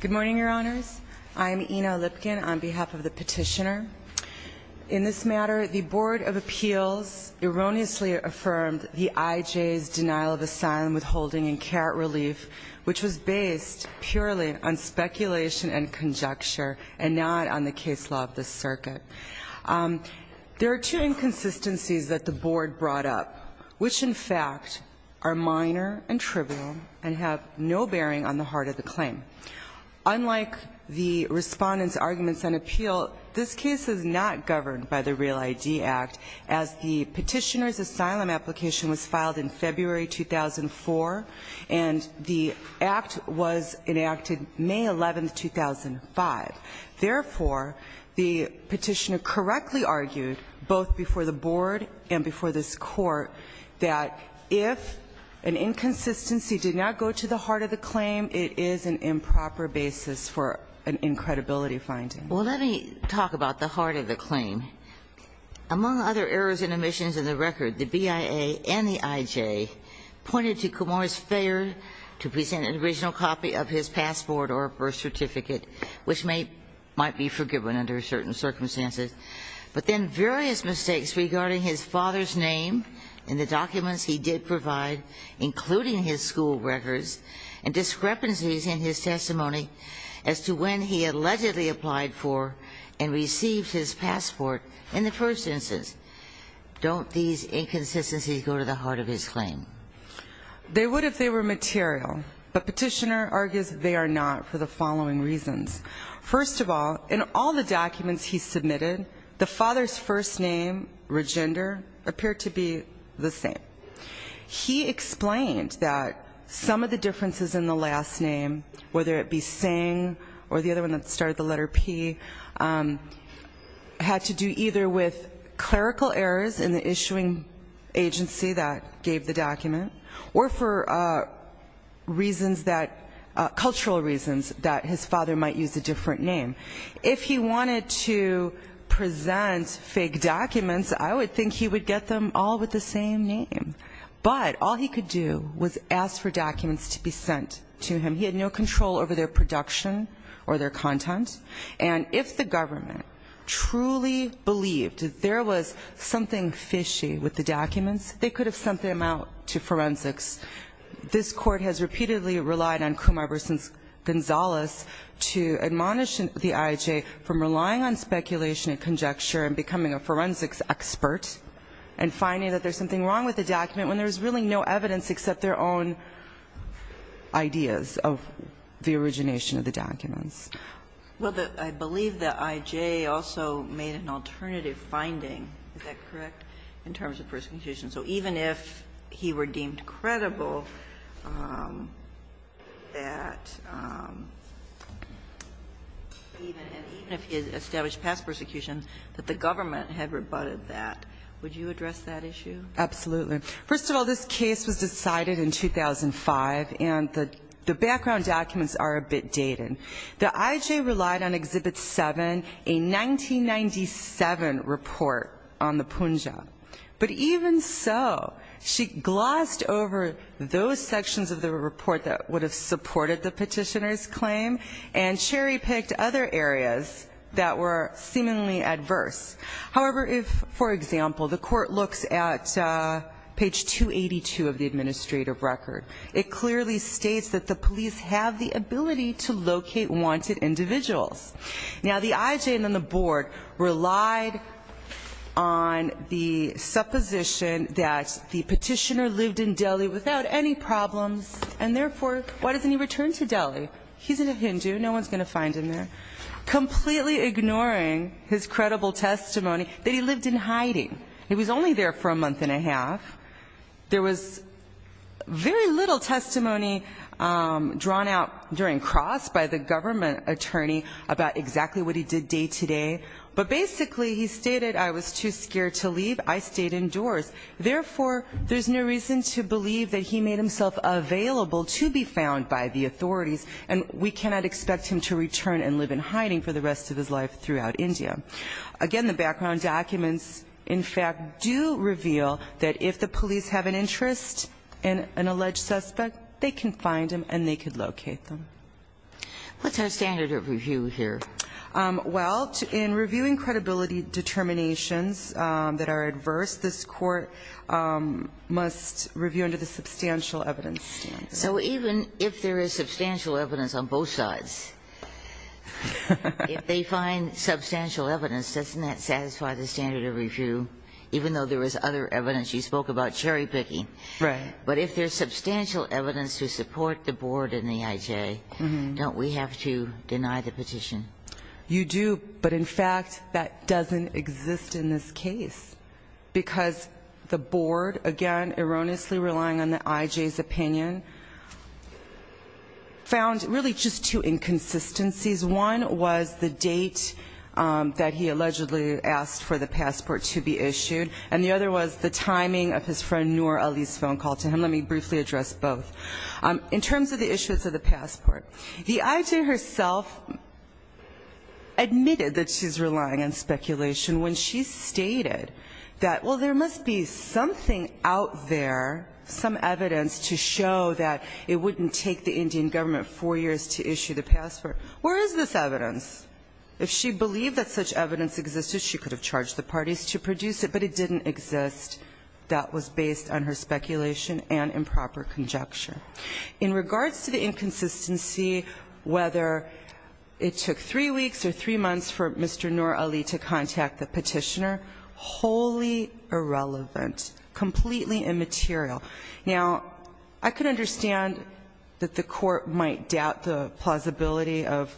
Good morning, Your Honors. I'm Ina Lipkin on behalf of the petitioner. In this matter, the Board of Appeals erroneously affirmed the IJ's denial of asylum withholding and care at relief, which was based purely on speculation and conjecture and not on the case law of the circuit. There are two inconsistencies that the Board brought up, which, in fact, are minor and trivial and have no bearing on the heart of the claim. Unlike the Respondent's arguments on appeal, this case is not governed by the Real ID Act, as the petitioner's asylum application was filed in February 2004 and the act was enacted May 11, 2005. Therefore, the petitioner correctly argued, both before the Board and before this Court, that if an inconsistency did not go to the heart of the claim, it is an improper basis for an incredibility finding. Well, let me talk about the heart of the claim. Among other errors and omissions in the record, the BIA and the IJ pointed to Kumar's might be forgiven under certain circumstances. But then various mistakes regarding his father's name in the documents he did provide, including his school records, and discrepancies in his testimony as to when he allegedly applied for and received his passport in the first instance. Don't these inconsistencies go to the heart of his claim? They would if they were material. But petitioner argues they are not for the following reasons. First of all, in all the documents he submitted, the father's first name, Regender, appeared to be the same. He explained that some of the differences in the last name, whether it be Singh or the other one that started the letter P, had to do either with clerical errors in the issuing agency that gave the document or for reasons that, cultural reasons, that his father might use a different name. If he wanted to present fake documents, I would think he would get them all with the same name. But all he could do was ask for documents to be sent to him. He had no control over their production or their content. And if the government truly believed that there was something fishy with the documents, they could have sent them out to forensics. This Court has repeatedly relied on Kumar v. Gonzalez to admonish the IJ from relying on speculation and conjecture and becoming a forensics expert and finding that there's something wrong with the document when there's really no evidence except their own ideas of the origination of the documents. Well, I believe the IJ also made an alternative finding. Is that correct? In terms of persecution. So even if he were deemed credible that, even if he had established past persecution, that the government had rebutted that, would you address that issue? Absolutely. First of all, this case was decided in 2005, and the background documents are a bit dated. The IJ relied on Exhibit 7, a 1997 report on the Punjab. But even so, she glossed over those sections of the report that would have supported the petitioner's claim and cherry-picked other areas that were seemingly adverse. However, if, for example, the Court looks at page 282 of the administrative record, it clearly states that the police have the ability to locate wanted individuals. Now, the IJ and then the board relied on the supposition that the petitioner lived in Delhi without any problems, and therefore, why doesn't he return to Delhi? He's a Hindu. No one's going to find him there. Completely ignoring his credible testimony that he lived in hiding. He was only there for a month and a half. There was very little testimony drawn out during cross by the government attorney about exactly what he did day-to-day. But basically, he stated, I was too scared to leave. I stayed indoors. Therefore, there's no reason to believe that he made himself available to be found by the authorities, and we cannot expect him to return and live in hiding for the rest of his life throughout India. Again, the background documents, in fact, do reveal that if the police have an interest in an alleged suspect, they can find him and they can locate them. What's our standard of review here? Well, in reviewing credibility determinations that are adverse, this Court must review under the substantial evidence standard. So even if there is substantial evidence on both sides, if they find substantial evidence, doesn't that satisfy the standard of review, even though there is other evidence? You spoke about cherry-picking. Right. But if there's substantial evidence to support the Board and the IJ, don't we have to deny the petition? You do, but in fact, that doesn't exist in this case because the Board, again, erroneously relying on the IJ's opinion, found really just two inconsistencies. One was the date that he allegedly asked for the passport to be issued, and the other was the timing of his friend Noor Ali's phone call to him. Let me briefly address both. In terms of the issuance of the passport, the IJ herself admitted that she's relying on speculation when she stated that, well, there must be something out there, some evidence to show that it wouldn't take the Indian government four years to issue the passport. Where is this evidence? If she believed that such evidence existed, she could have charged the parties to produce it, but it didn't exist. That was based on her speculation and improper conjecture. In regards to the inconsistency, whether it took three weeks or three months for Mr. Noor Ali to contact the petitioner, wholly irrelevant, completely immaterial. Now, I can understand that the Court might doubt the plausibility of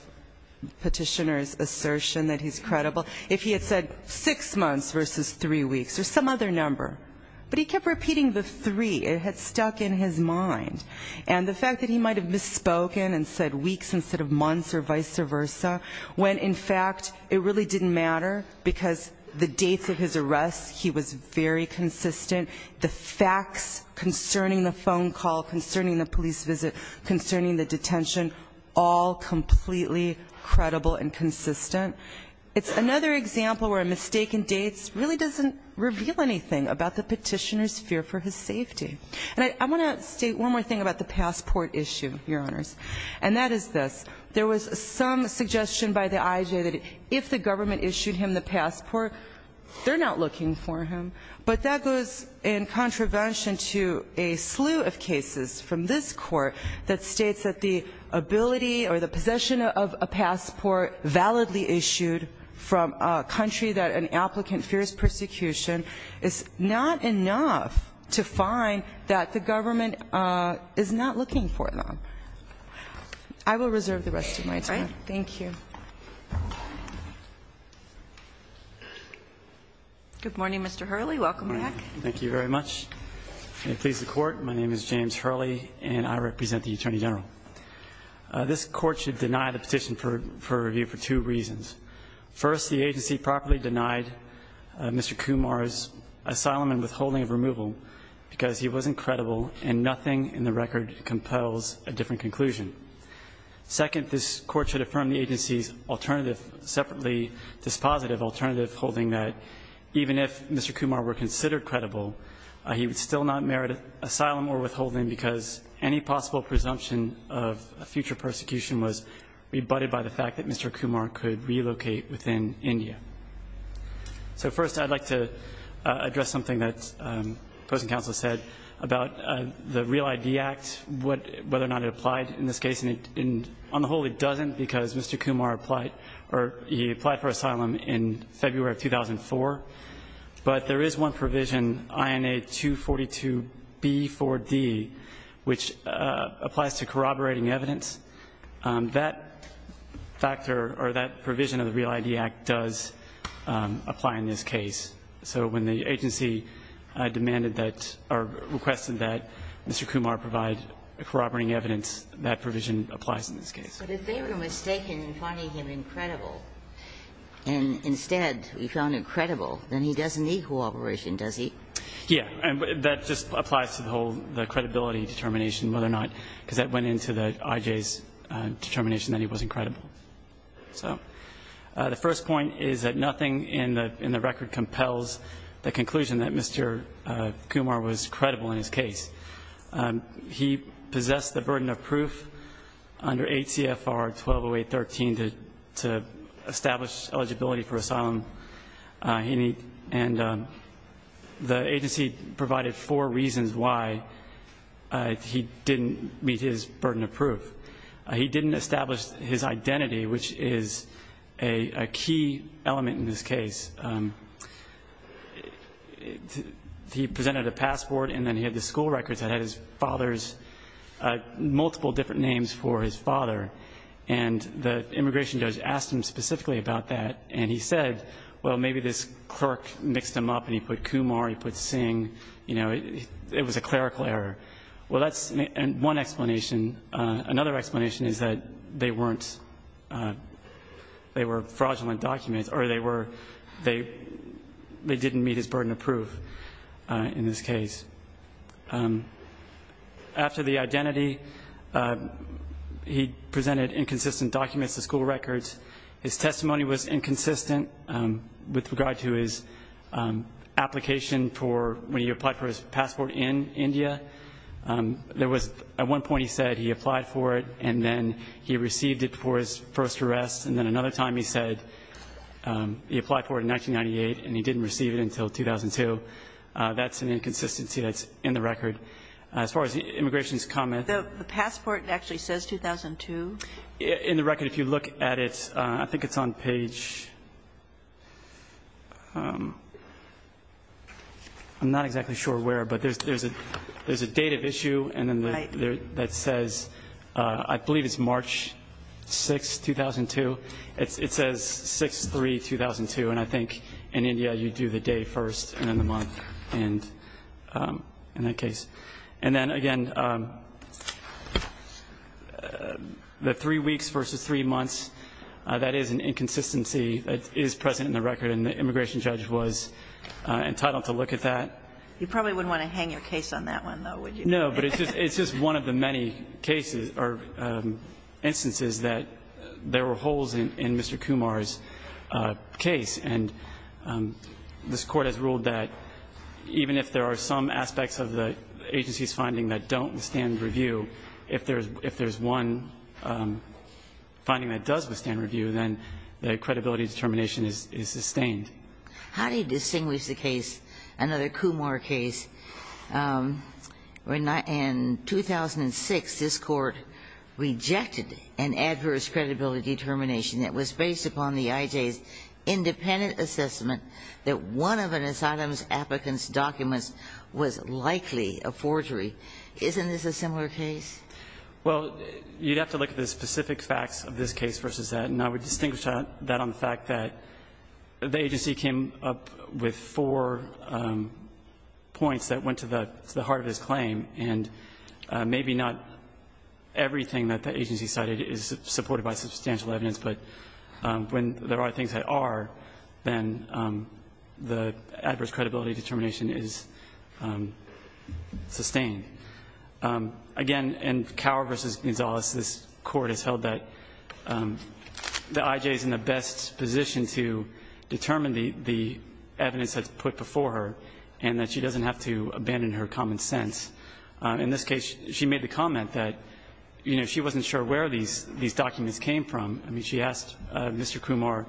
the petitioner's assertion that he's credible if he had said six months versus three weeks or some other number, but he kept repeating the three. It had stuck in his mind. And the fact that he might have misspoken and said weeks instead of months or vice versa when, in fact, it really didn't matter because the dates of his arrest, he was very consistent. The facts concerning the phone call, concerning the police visit, concerning the detention, all completely credible and consistent. It's another example where a mistake in dates really doesn't reveal anything about the petitioner's fear for his safety. And I want to state one more thing about the passport issue, Your Honors, and that is this. There was some suggestion by the IJ that if the government issued him the passport, they're not looking for him. But that goes in contravention to a slew of cases from this Court that states that the ability or the possession of a passport validly issued from a country that an applicant fears persecution is not enough to find that the government is not looking for them. I will reserve the rest of my time. Thank you. Good morning, Mr. Hurley. Welcome back. Thank you very much. May it please the Court. My name is James Hurley, and I represent the Attorney General. This Court should deny the petition for review for two reasons. First, the agency properly denied Mr. Kumar's asylum and withholding of removal because he wasn't credible, and nothing in the record compels a different conclusion. Second, this Court should affirm the agency's alternative, separately dispositive alternative, holding that even if Mr. Kumar were considered credible, he would still not merit asylum or withholding because any possible presumption of a future persecution was rebutted by the fact that Mr. Kumar could relocate within India. So first, I'd like to address something that the opposing counsel said about the REAL-ID Act, whether or not it applied in this case. On the whole, it doesn't because Mr. Kumar applied for asylum in February of 2004, but there is one provision, INA 242b4d, which applies to corroborating evidence. That factor or that provision of the REAL-ID Act does apply in this case. So when the agency demanded that or requested that Mr. Kumar provide corroborating evidence, that provision applies in this case. Ginsburg. But if they were mistaken in finding him incredible and instead we found him credible, then he doesn't need corroboration, does he? Yeah. And that just applies to the whole credibility determination, whether or not, because that went into the IJ's determination that he was incredible. So the first point is that nothing in the record compels the conclusion that Mr. Kumar was credible in his case. He possessed the burden of proof under 8 CFR 1208.13 to establish eligibility for asylum. And the agency provided four reasons why he didn't meet his burden of proof. He didn't establish his identity, which is a key element in this case. He presented a passport and then he had the school records that had his father's multiple different names for his father. And the immigration judge asked him specifically about that. And he said, well, maybe this clerk mixed them up and he put Kumar, he put Singh. You know, it was a clerical error. Well, that's one explanation. Another explanation is that they weren't, they were fraudulent documents or they were, they didn't meet his burden of proof in this case. After the identity, he presented inconsistent documents, the school records. His testimony was inconsistent with regard to his application for when he applied for his passport in India. There was, at one point he said he applied for it and then he received it before his first arrest. And then another time he said he applied for it in 1998 and he didn't receive it until 2002. That's an inconsistency that's in the record. As far as the immigration's comment. The passport actually says 2002. In the record, if you look at it, I think it's on page, I'm not exactly sure where, but there's a date of issue. Right. That says, I believe it's March 6, 2002. It says 6-3-2002 and I think in India you do the day first and then the month and in that case. And then again, the three weeks versus three months, that is an inconsistency that is present in the record and the immigration judge was entitled to look at that. You probably wouldn't want to hang your case on that one, though, would you? No, but it's just one of the many cases or instances that there were holes in Mr. Kumar's case. And this Court has ruled that even if there are some aspects of the agency's finding that don't withstand review, if there's one finding that does withstand review, then the credibility determination is sustained. How do you distinguish the case, another Kumar case, when in 2006 this Court rejected an adverse credibility determination that was based upon the IJ's independent assessment that one of an asylum applicant's documents was likely a forgery? Isn't this a similar case? Well, you'd have to look at the specific facts of this case versus that, and I would distinguish that on the fact that the agency came up with four points that went to the heart of his claim, and maybe not everything that the agency cited is supported by substantial evidence, but when there are things that are, then the adverse credibility determination is sustained. Again, in Cower v. Gonzalez, this Court has held that the IJ is in the best position to determine the evidence that's put before her and that she doesn't have to abandon her common sense. In this case, she made the comment that, you know, she wasn't sure where these documents came from. I mean, she asked Mr. Kumar,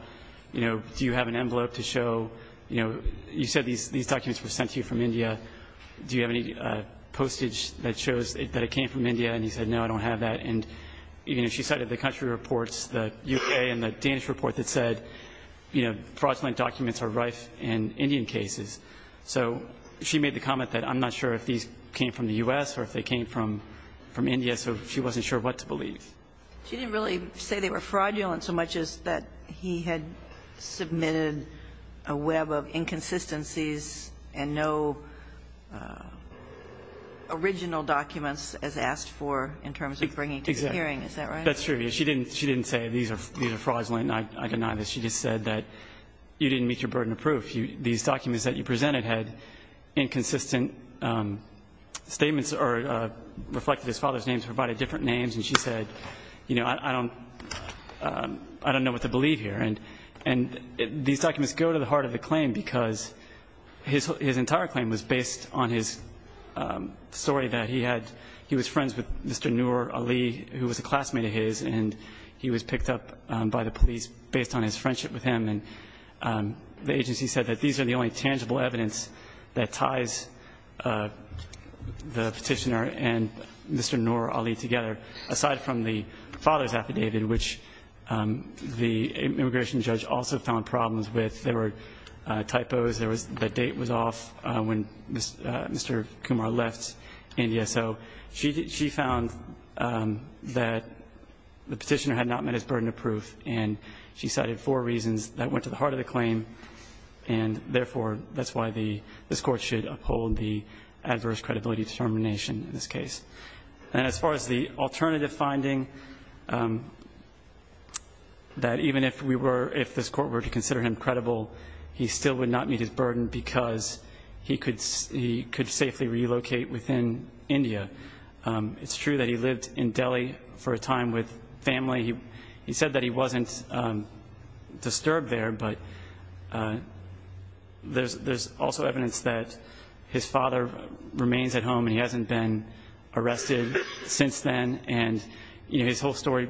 you know, do you have an envelope to show, you know, you said these documents were sent to you from India. Do you have any postage that shows that it came from India? And he said, no, I don't have that. And, you know, she cited the country reports, the U.K. and the Danish report that said, you know, fraudulent documents are rife in Indian cases. So she made the comment that I'm not sure if these came from the U.S. or if they came from India, so she wasn't sure what to believe. She didn't really say they were fraudulent so much as that he had submitted a web of inconsistencies and no original documents as asked for in terms of bringing to the hearing. Exactly. Is that right? That's true. She didn't say these are fraudulent. I deny this. She just said that you didn't meet your burden of proof. These documents that you presented had inconsistent statements or reflected his father's names, provided different names. And she said, you know, I don't know what to believe here. And these documents go to the heart of the claim because his entire claim was based on his story that he had he was friends with Mr. Noor Ali, who was a classmate of his, and he was picked up by the police based on his friendship with him. And the agency said that these are the only tangible evidence that ties the petitioner and Mr. Noor Ali together, aside from the father's affidavit, which the immigration judge also found problems with. There were typos. The date was off when Mr. Kumar left India. So she found that the petitioner had not met his burden of proof, and she cited four reasons that went to the heart of the claim, and therefore that's why this Court should uphold the adverse credibility determination in this case. And as far as the alternative finding, that even if this Court were to consider him credible, he still would not meet his burden because he could safely relocate within India. It's true that he lived in Delhi for a time with family. He said that he wasn't disturbed there, but there's also evidence that his father remains at home and he hasn't been arrested since then. And his whole story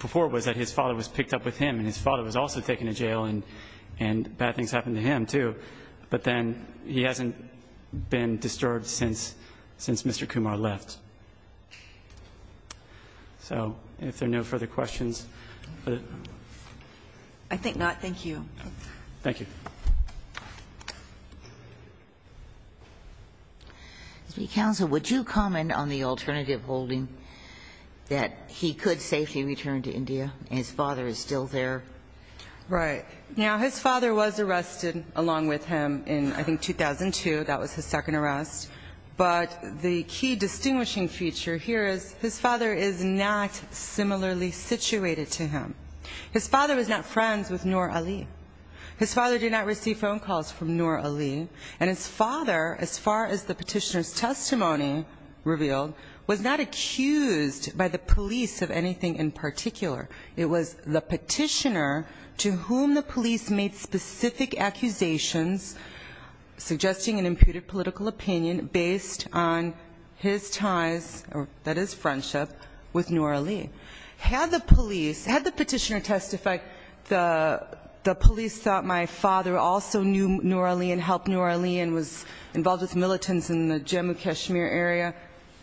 before was that his father was picked up with him, and his father was also taken to jail, and bad things happened to him, too. But then he hasn't been disturbed since Mr. Kumar left. So if there are no further questions. I think not. Thank you. Thank you. Counsel, would you comment on the alternative holding that he could safely return to India and his father is still there? Now, his father was arrested along with him in, I think, 2002. That was his second arrest. But the key distinguishing feature here is his father is not similarly situated to him. His father was not friends with Nur Ali. His father did not receive phone calls from Nur Ali. And his father, as far as the petitioner's testimony revealed, was not accused by the police of anything in particular. It was the petitioner to whom the police made specific accusations, suggesting an imputed political opinion based on his ties, that is, friendship, with Nur Ali. Had the police, had the petitioner testified, the police thought my father also knew Nur Ali and helped Nur Ali and was involved with militants in the Jammu Kashmir area,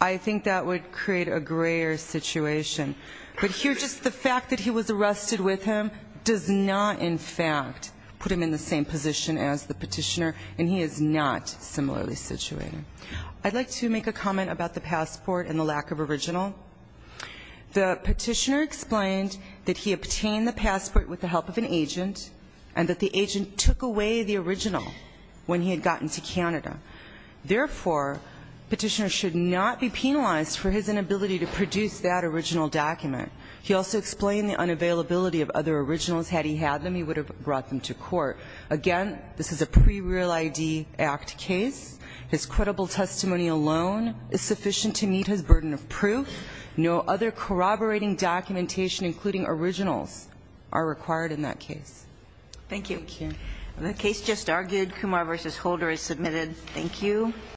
I think that would create a grayer situation. But here just the fact that he was arrested with him does not, in fact, put him in the same position as the petitioner, and he is not similarly situated. I'd like to make a comment about the passport and the lack of original. The petitioner explained that he obtained the passport with the help of an agent and that the agent took away the original when he had gotten to Canada. Therefore, petitioner should not be penalized for his inability to produce that original document. He also explained the unavailability of other originals. Had he had them, he would have brought them to court. Again, this is a pre-Real ID Act case. His credible testimony alone is sufficient to meet his burden of proof. No other corroborating documentation, including originals, are required in that case. Thank you. Thank you. The case just argued. Kumar v. Holder is submitted. Thank you.